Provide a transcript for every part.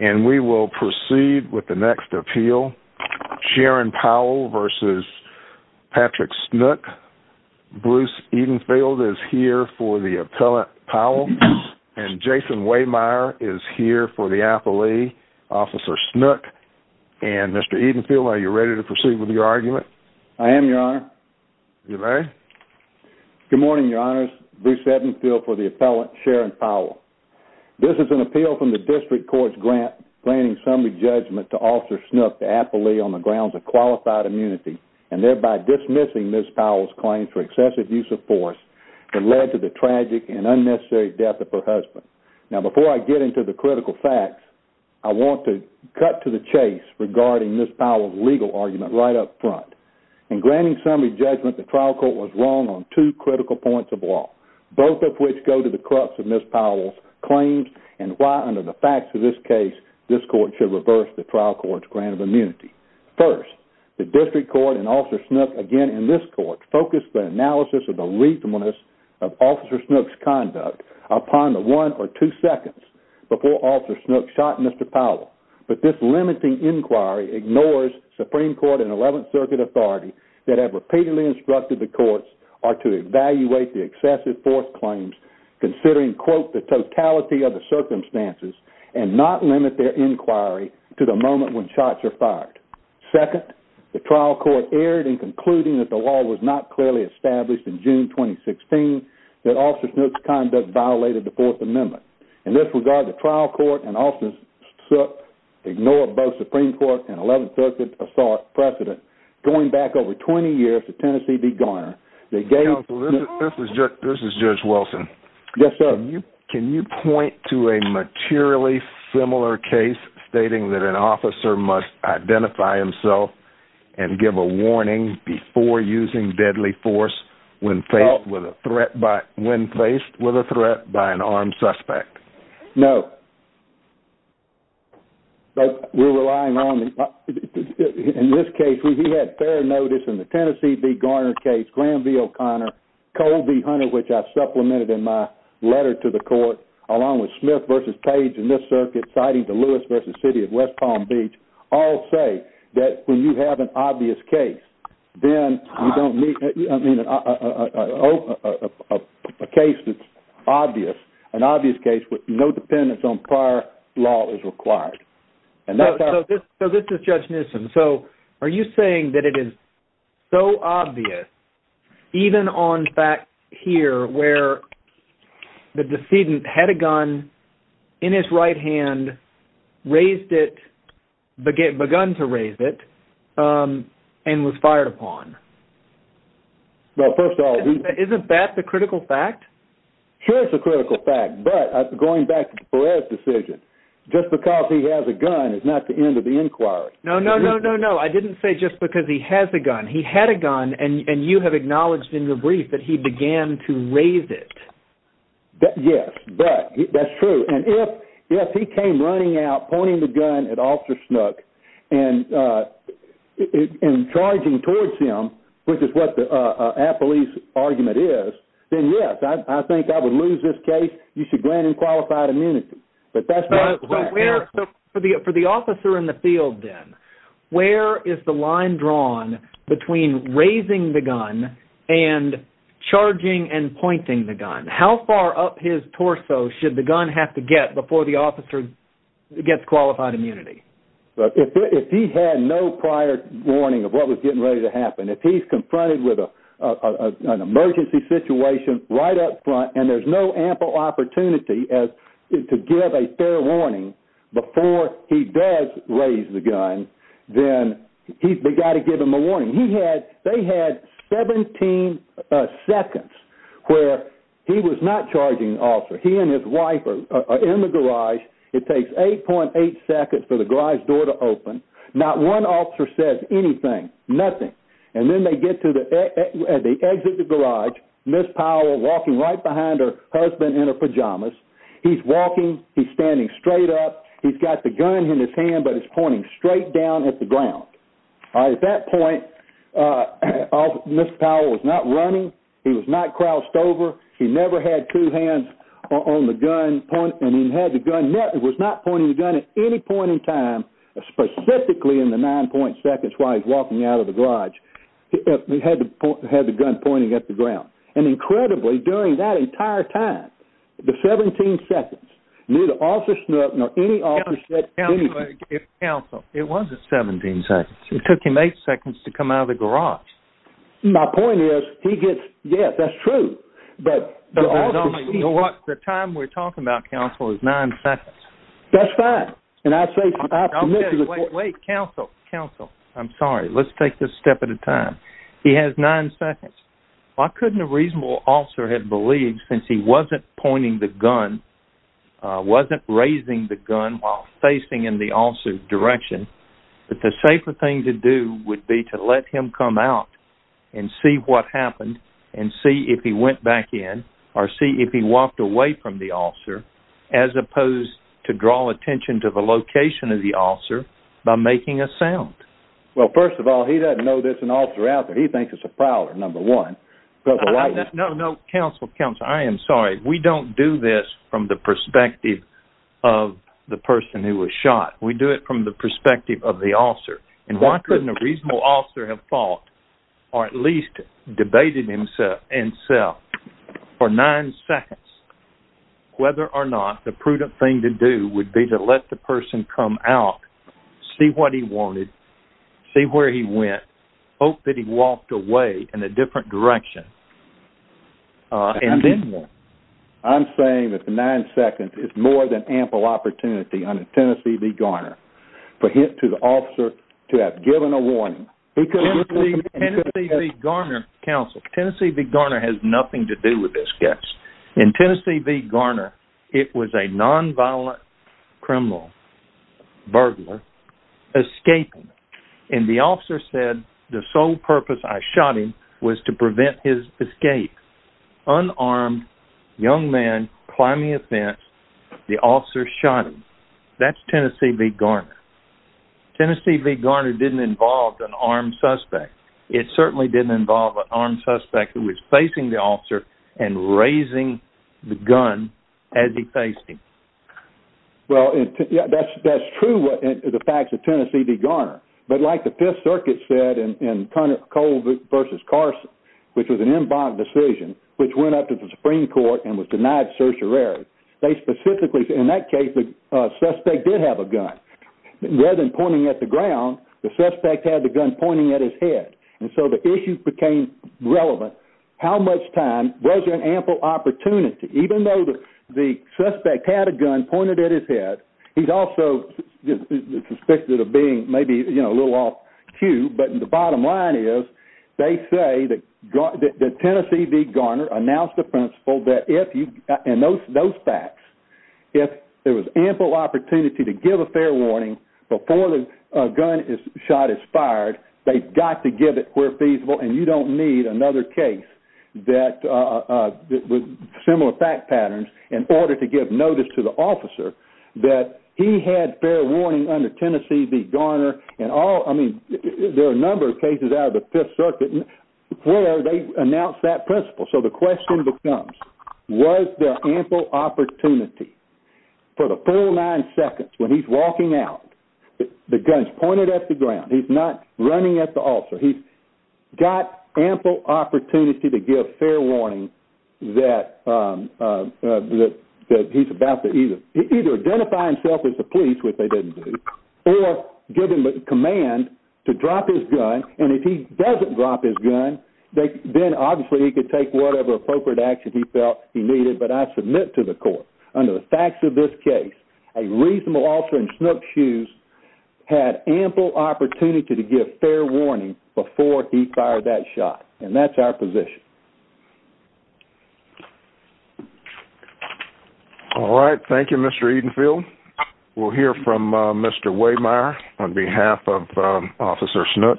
And we will proceed with the next appeal. Sharon Powell v. Patrick Snook. Bruce Edenfield is here for the appellant Powell and Jason Wehmeyer is here for the affilee officer Snook. And Mr. Edenfield, are you ready to proceed with your argument? I am, Your Honor. You may. Good morning, Your Honors. Bruce Edenfield for the appellant Sharon Powell. This is an appeal from the district court's granting summary judgment to Officer Snook, the affilee, on the grounds of qualified immunity and thereby dismissing Ms. Powell's claims for excessive use of force that led to the tragic and unnecessary death of her husband. Now, before I get into the critical facts, I want to cut to the chase regarding Ms. Powell's legal argument right up front. In granting summary judgment, the trial court was wrong on two critical points of law, both of which go to the crux of Ms. Powell's claims and why, under the facts of this case, this court should reverse the trial court's grant of immunity. First, the district court and Officer Snook, again in this court, focused the analysis of the reasonableness of Officer Snook's conduct upon the one or two seconds before Officer Snook shot Mr. Powell. But this limiting inquiry ignores Supreme Court and 11th Circuit authority that have enforced claims considering, quote, the totality of the circumstances and not limit their inquiry to the moment when shots are fired. Second, the trial court erred in concluding that the law was not clearly established in June 2016, that Officer Snook's conduct violated the Fourth Amendment. In this regard, the trial court and Officer Snook ignored both Supreme Court and 11th Circuit assault precedent. Going back over 20 years to Tennessee v. Garner, this is Judge Wilson. Yes, sir. Can you point to a materially similar case stating that an officer must identify himself and give a warning before using deadly force when faced with a threat by an armed suspect? No. But we're relying on, in this case, we had fair notice in the Tennessee v. Garner case that I supplemented in my letter to the court, along with Smith v. Page in this circuit, citing the Lewis v. City of West Palm Beach, all say that when you have an obvious case, then you don't need a case that's obvious, an obvious case with no dependence on prior law as required. And that's how- So this is Judge Newsom. So are you saying that it is so obvious, even on fact here, where the decedent had a gun in his right hand, raised it, begun to raise it, and was fired upon? Well, first of all- Isn't that the critical fact? Sure it's a critical fact, but going back to Perez's decision, just because he has a gun is not the end of the inquiry. No, no, no, no, no. I didn't say just because he has a gun. He had a gun, and you have acknowledged in your brief that he began to raise it. Yes, but that's true. And if he came running out, pointing the gun at Officer Snook and charging towards him, which is what the appellee's argument is, then yes, I think I would lose this case. You should grant him qualified immunity. But that's not- So where- for the officer in the field, then, where is the line drawn between raising the gun and charging and pointing the gun? How far up his torso should the gun have to get before the officer gets qualified immunity? If he had no prior warning of what was getting ready to happen, if he's confronted with an ample opportunity to give a fair warning before he does raise the gun, then we've got to give him a warning. He had- they had 17 seconds where he was not charging the officer. He and his wife are in the garage. It takes 8.8 seconds for the garage door to open. Not one officer says anything, nothing. And then they get to the exit of the garage, Ms. Powell walking right behind her husband in her pajamas. He's walking, he's standing straight up, he's got the gun in his hand, but it's pointing straight down at the ground. At that point, Ms. Powell was not running, he was not crouched over, he never had two hands on the gun, and he had the gun- was not pointing the gun at any point in time, specifically in the 9.8 seconds while he's walking out of the garage, he had the gun pointing at the ground. And incredibly, during that entire time, the 17 seconds, neither officer Snook nor any officer said anything. Counsel, it wasn't 17 seconds. It took him 8 seconds to come out of the garage. My point is, he gets- yes, that's true. But the time we're talking about, Counsel, is 9 seconds. That's fine. And I say- Okay, wait, wait. Counsel, Counsel. I'm sorry. Let's take this step at a time. He has 9 seconds. Why couldn't a reasonable officer have believed, since he wasn't pointing the gun, wasn't raising the gun while facing in the officer's direction, that the safer thing to do would be to let him come out and see what happened, and see if he went back in, or see if he walked away from the officer, as opposed to draw attention to the location of the officer by making a sound? Well, first of all, he doesn't know there's an officer out there. He thinks it's a prowler, number one. No, no, Counsel, Counsel, I am sorry. We don't do this from the perspective of the person who was shot. We do it from the perspective of the officer. And why couldn't a reasonable officer have thought, or at least debated himself, for 9 seconds, whether or not the prudent thing to do would be to let the person come out, see what he wanted, see where he went, hope that he walked away in a different direction, and then what? I'm saying that the 9 seconds is more than ample opportunity under Tennessee v. Garner for him, to the officer, to have given a warning. Tennessee v. Garner, Counsel, Tennessee v. Garner has nothing to do with this case. In Tennessee v. Garner, it was a non-violent criminal, burglar, escaping. And the officer said, the sole purpose I shot him was to prevent his escape. Unarmed, young man, climbing a fence, the officer shot him. That's Tennessee v. Garner. Tennessee v. Garner didn't involve an armed suspect. It certainly didn't involve an armed suspect who was facing the officer and raising the gun as he faced him. Well, that's true, the facts of Tennessee v. Garner. But like the Fifth Circuit said in Cole v. Carson, which was an en banc decision, which went up to the Supreme Court and was denied certiorari. They specifically, in that case, the suspect did have a gun. Rather than pointing at the ground, the suspect had the gun pointing at his head. And so the issue became relevant. How much time was an ample opportunity? Even though the suspect had a gun pointed at his head, he's also suspected of being maybe a little off cue. But the bottom line is, they say that Tennessee v. Garner announced the principle that if and those facts, if there was ample opportunity to give a fair warning before the gun shot is fired, they've got to give it where feasible. And you don't need another case that with similar fact patterns in order to give notice to the officer that he had fair warning under Tennessee v. Garner. And all I mean, there are a number of cases out of the Fifth Circuit where they announced that principle. So the question becomes, was there ample opportunity for the full nine seconds when he's walking out, the guns pointed at the ground, he's not running at the officer, he's got ample opportunity to give fair warning that he's about to either either identify himself as the police, which they didn't do, or give him the command to drop his gun. And if he doesn't drop his gun, then obviously he could take whatever appropriate action he felt he needed. But I submit to the court, under the facts of this case, a reasonable officer in Snook's shoes had ample opportunity to give fair warning before he fired that shot. And that's our position. All right, thank you, Mr. Edenfield, we'll hear from Mr. Waymeyer on behalf of Officer Snook.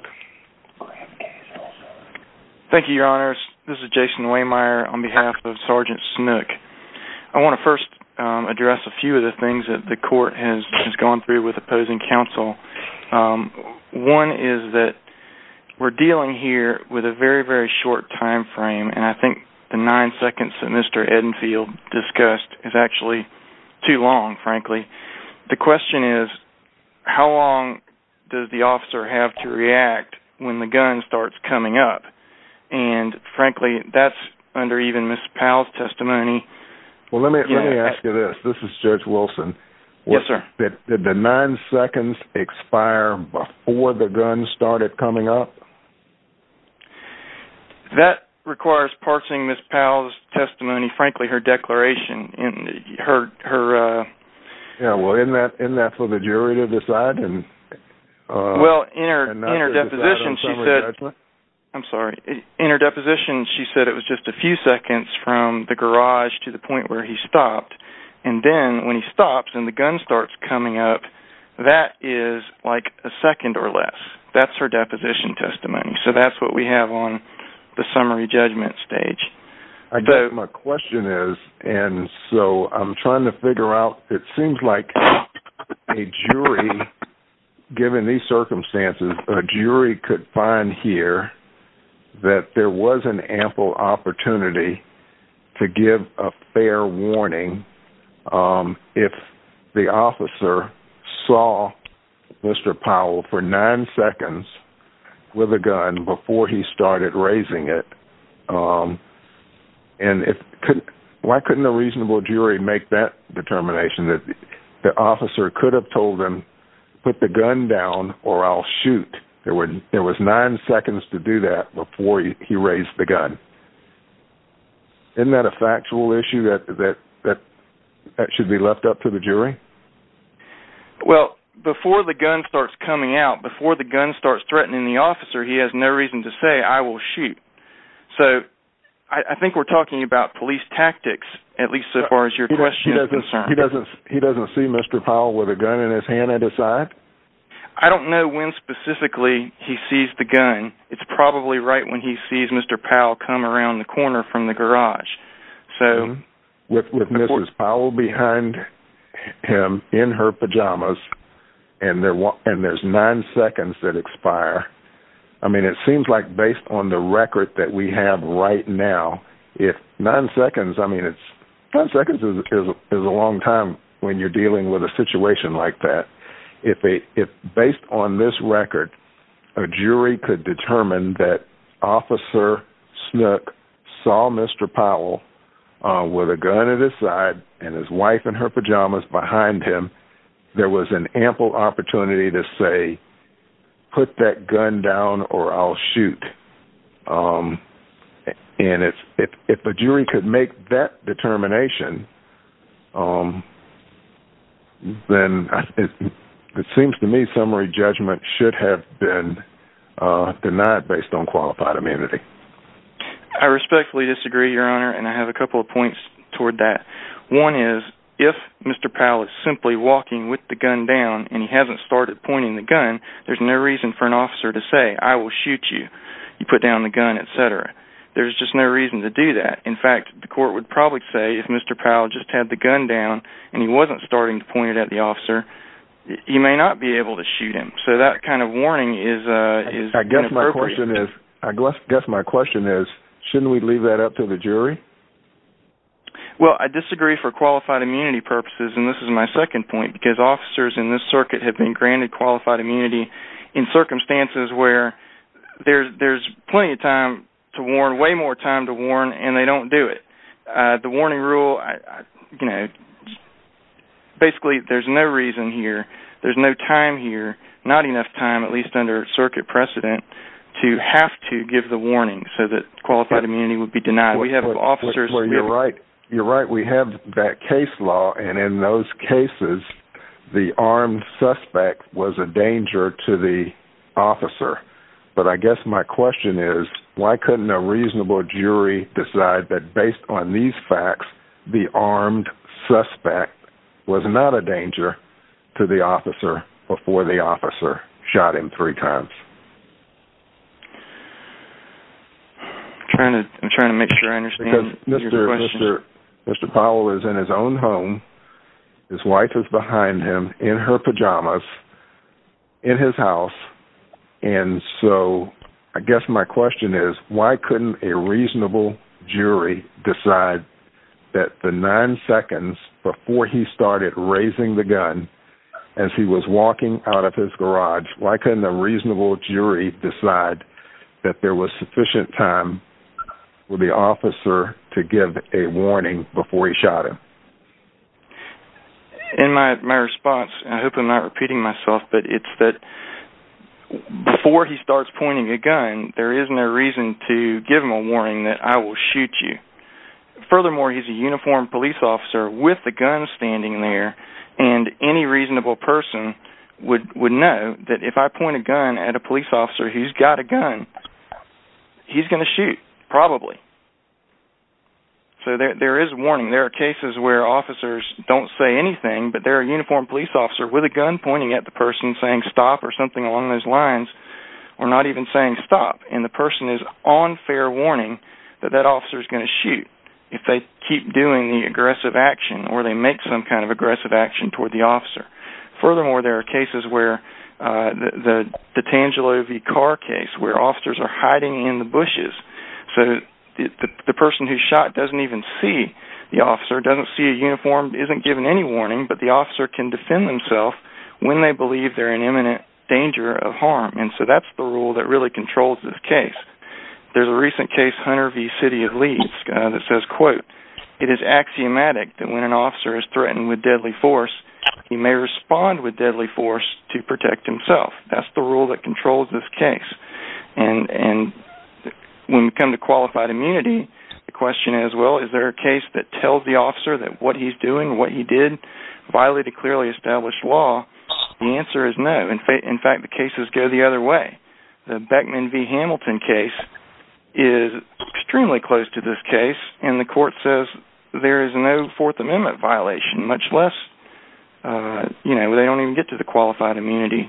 Thank you, Your Honors. This is Jason Waymeyer on behalf of Sergeant Snook. I want to first address a few of the things that the court has gone through with opposing counsel. One is that we're dealing here with a very, very short time frame, and I think the nine seconds that Mr. Edenfield discussed is actually too long, frankly. The question is, how long does the officer have to react when the gun starts coming up? And frankly, that's under even Ms. Powell's testimony. Well, let me let me ask you this. This is Judge Wilson. Yes, sir. Did the nine seconds expire before the gun started coming up? That requires parsing Ms. Powell's testimony, frankly, her declaration and her testimony. Yeah, well, isn't that for the jury to decide? Well, in her deposition, she said it was just a few seconds from the garage to the point where he stopped. And then when he stops and the gun starts coming up, that is like a second or less. That's her deposition testimony. So that's what we have on the summary judgment stage. I guess my question is, and so I'm trying to figure out, it seems like a jury, given these circumstances, a jury could find here that there was an ample opportunity to give a fair warning. If the officer saw Mr. Wilson, there was nine seconds with a gun before he started raising it. And why couldn't a reasonable jury make that determination that the officer could have told them, put the gun down or I'll shoot? There was nine seconds to do that before he raised the gun. Isn't that a factual issue that should be left up to the jury? Well, before the gun starts coming out, before the gun starts threatening the officer, he has no reason to say I will shoot. So I think we're talking about police tactics, at least so far as your question is concerned. He doesn't see Mr. Powell with a gun in his hand and his side? I don't know when specifically he sees the gun. It's probably right when he sees Mr. Powell come around the corner from the garage. So with Mrs. Powell behind him in her pajamas and there's nine seconds that expire. I mean, it seems like based on the record that we have right now, if nine seconds, I mean, it's 10 seconds is a long time when you're dealing with a situation like that. If based on this record, a jury could determine that Officer Snook saw Mr. Powell with a gun at his side and his wife in her pajamas behind him, there was an ample opportunity to say, put that gun down or I'll shoot. And if a jury could make that determination, then it seems to me summary judgment should have been denied based on qualified immunity. I respectfully disagree, Your Honor, and I have a couple of points toward that. One is if Mr. Powell is simply walking with the gun down and he hasn't started pointing the gun, there's no reason for an officer to say I will shoot you. You put down the gun, et cetera. There's just no reason to do that. In fact, the court would probably say if Mr. Powell just had the gun down and he wasn't starting to point it at the officer, you may not be able to shoot him. So that kind of warning is, is I guess my question is, I guess my question is, shouldn't we leave that up to the jury? Well, I disagree for qualified immunity purposes, and this is my second point, because officers in this circuit have been granted qualified immunity in circumstances where there's there's plenty of time to warn, way more time to warn, and they don't do it. The warning rule, you know, basically there's no reason here. There's no time here, not enough time, at least under circuit precedent, to have to give the warning so that qualified immunity would be denied. We have officers where you're right. You're right. We have that case law. And in those cases, the armed suspect was a danger to the officer. But I guess my question is, why couldn't a reasonable jury decide that based on these facts, the armed suspect was not a danger to the officer before the officer shot him three times? Trying to I'm trying to make sure I understand Mr. Mr. Mr. Powell is in his own home. His wife is behind him in her pajamas. In his house. And so I guess my question is, why couldn't a reasonable jury decide that the nine seconds before he started raising the gun as he was walking out of his garage, why couldn't a reasonable jury decide that there was sufficient time for the officer to give a warning before he shot him? In my my response, I hope I'm not repeating myself, but it's that before he starts pointing a gun, there is no reason to give him a warning that I will shoot you. Furthermore, he's a uniformed police officer with a gun standing there. And any reasonable person would would know that if I point a gun at a police officer who's got a gun, he's going to shoot probably. So there is warning. There are cases where officers don't say anything, but they're a uniformed police officer with a gun pointing at the person saying stop or something along those lines or not even saying stop. And the person is on fair warning that that officer is going to shoot if they keep doing the aggressive action or they make some kind of aggressive action toward the officer. Furthermore, there are cases where the Tangelo v. Carr case where officers are hiding in the bushes. So the person who shot doesn't even see the officer, doesn't see a uniform, isn't given any warning, but the officer can defend themselves when they believe they're in imminent danger of harm. And so that's the rule that really controls this case. There's a recent case, Hunter v. City of Leeds, that says, quote, it is axiomatic that when an officer is threatened with deadly force, he may respond with deadly force to protect himself. That's the rule that controls this case. And when we come to qualified immunity, the question is, well, is there a case that tells the officer that what he's doing, what he did violated clearly established law? The answer is no. In fact, the cases go the other way. The Beckman v. Hamilton case is extremely close to this case. And the court says there is no Fourth Amendment violation, much less, you know, they don't even get to the qualified immunity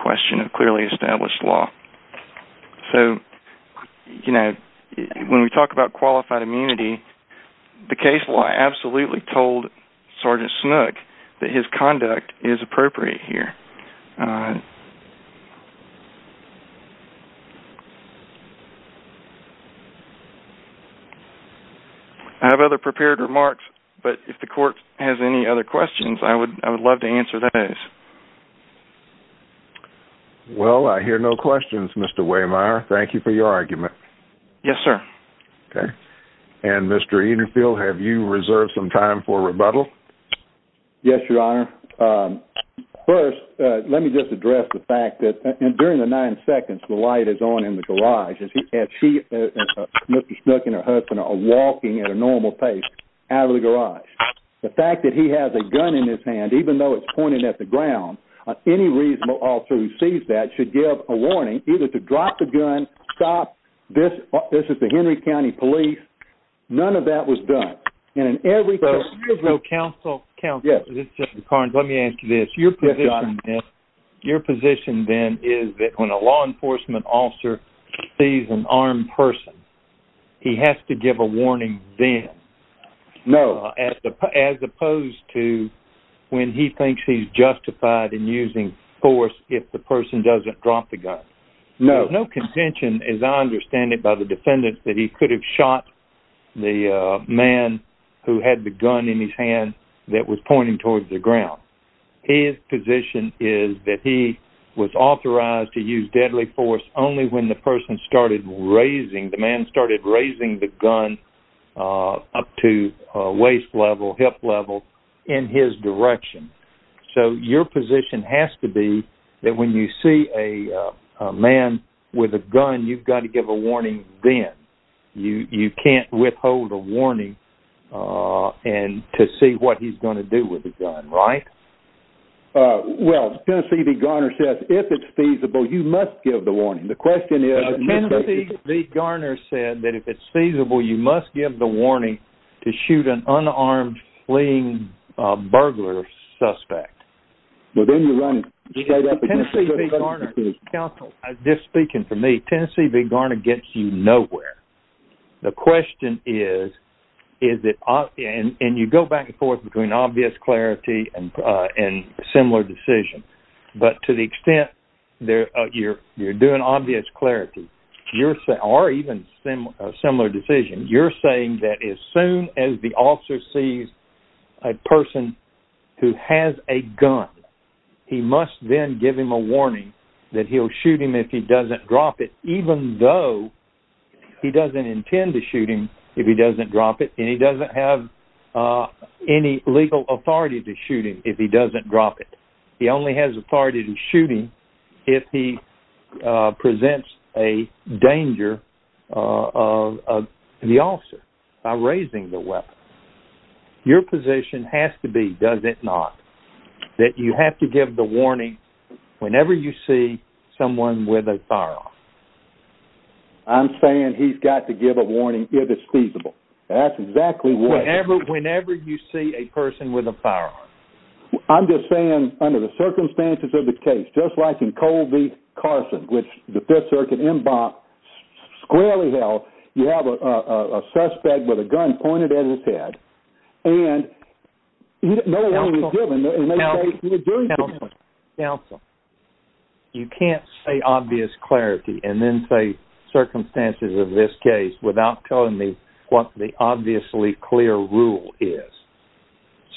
question of clearly established law. So, you know, when we talk about qualified immunity, the case law absolutely told Sergeant Snook that his conduct is appropriate here. I have other prepared remarks, but if the court has any other questions, I would I would love to answer those. Well, I hear no questions, Mr. Waymire, thank you for your argument. Yes, sir. OK. And Mr. Edenfield, have you reserved some time for rebuttal? Yes, your honor. First, let me just address the fact that during the nine seconds the light is on in the garage as he and she, Mr. Snook and her husband are walking at a normal pace out of the garage. The fact that he has a gun in his hand, even though it's pointing at the ground, any reasonable officer who sees that should give a warning either to drop the gun, stop this. This is the Henry County Police. None of that was done. And in every case, there's no counsel. Counsel. Yes, it's just the cards. Let me ask you this. Your position is your position, then, is that when a law enforcement officer sees an armed person, he has to give a warning then. No, as opposed to when he thinks he's justified in using force, if the person doesn't drop the gun. No, no contention, as I understand it, by the defendants that he could have shot the man who had the gun in his hand that was pointing towards the ground. His position is that he was authorized to use deadly force only when the person started raising the man, started raising the gun up to waist level, hip level in his direction. So your position has to be that when you see a man with a gun, you've got to give a warning. Then you can't withhold a warning and to see what he's going to do with the gun. Right. Well, Tennessee, the gunner says if it's feasible, you must give the warning. The question is, the gunner said that if it's feasible, you must give the warning to shoot an unarmed fleeing burglar suspect. Well, then you run straight up to the council. Just speaking for me, Tennessee, the gunner gets you nowhere. The question is, is it and you go back and forth between obvious clarity and similar decision. But to the extent that you're you're doing obvious clarity, you're saying or even a similar decision, you're saying that as soon as the officer sees a person who has a gun, he must then give him a warning that he'll shoot him if he doesn't drop it, even though he doesn't intend to shoot him if he doesn't drop it. And he doesn't have any legal authority to shoot him if he doesn't drop it. He only has authority to shoot him if he presents a danger of the officer by raising the weapon. Your position has to be, does it not that you have to give the warning whenever you see someone with a firearm? I'm saying he's got to give a warning if it's feasible. That's exactly what ever whenever you see a person with a firearm, I'm just saying under the circumstances of the case, just like in Colby Carson, which the 5th Circuit Embankment squarely held. You have a suspect with a gun pointed at his head and you don't know what you're doing. And now you're doing something else. You can't say obvious clarity and then say circumstances of this case without telling me what the obviously clear rule is.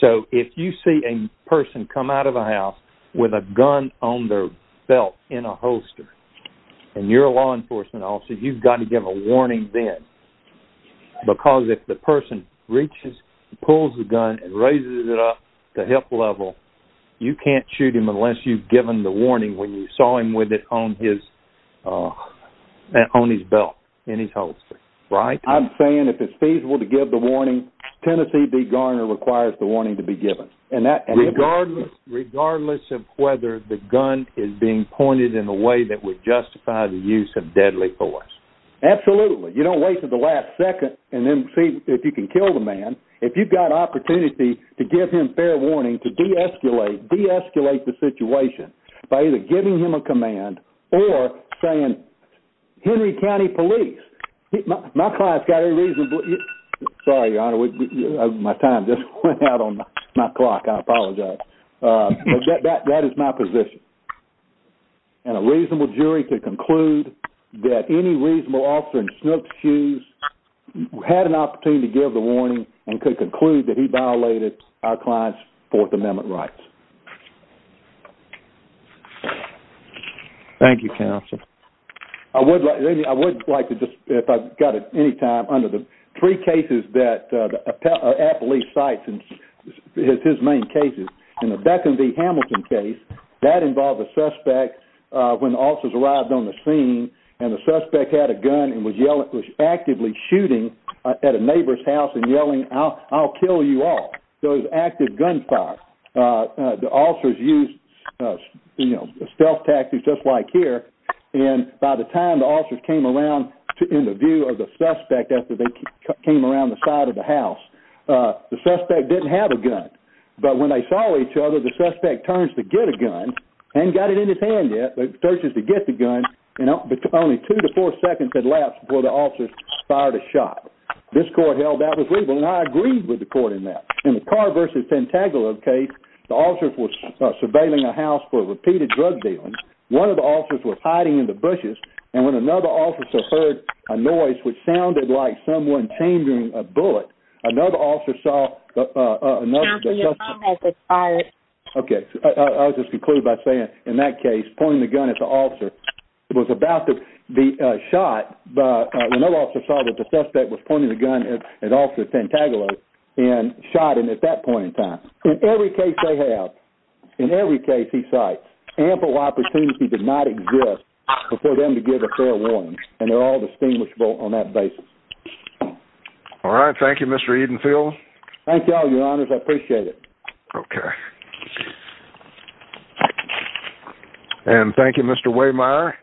So if you see a person come out of a house with a gun on their belt in a holster and you're a law enforcement officer, you've got to give a warning then, because if the person reaches, pulls the gun and raises it up to hip level, you can't shoot him unless you've given the warning when you saw him with it on his on his belt in his holster. Right. I'm saying if it's feasible to give the warning, Tennessee Garner requires the warning to be given and that regardless, regardless of whether the gun is being pointed in a way that would justify the use of deadly force. Absolutely. You don't wait for the last second and then see if you can kill the man. If you've got opportunity to give him fair warning to deescalate, deescalate the situation by either giving him a command or saying Henry County Police, my client's got a reasonable. Sorry, your honor, my time just went out on my clock. I apologize that that is my position. And a reasonable jury could conclude that any reasonable officer in snooks shoes had an opportunity to give the warning and could conclude that he violated our client's Fourth Amendment rights. Thank you, counsel. I would like I would like to just if I've got it any time under the three cases that Appley sites and his main cases in the Beckham v. Hamilton case that involved a suspect when officers arrived on the scene and the suspect had a gun and was yelling, was actively shooting at a neighbor's house and yelling, I'll kill you all. So it was active gunfire. The officers used stealth tactics, just like here. And by the time the officers came around to interview of the suspect after they came around the side of the house, the suspect didn't have a gun. But when they saw each other, the suspect turns to get a gun and got it in his hand. Yet searches to get the gun, you know, but only two to four seconds at last before the officers fired a shot. This court held that was legal. And I agreed with the court in that in the car versus pentagon of case. The officers were surveilling a house for repeated drug dealing. One of the officers was hiding in the bushes. And when another officer heard a noise which sounded like someone changing a bullet, another officer saw another. OK, I'll just conclude by saying in that case, pointing the gun at the officer was about to be shot. But no officer saw that the suspect was pointing the gun at an officer pentagonal and shot. And at that point in time, in every case. They have in every case he cite ample opportunity did not exist for them to give a fair warning. And they're all distinguishable on that basis. All right. Thank you, Mr. Edenfield. Thank you all your honors. I appreciate it. OK. And thank you, Mr. Waymeyer.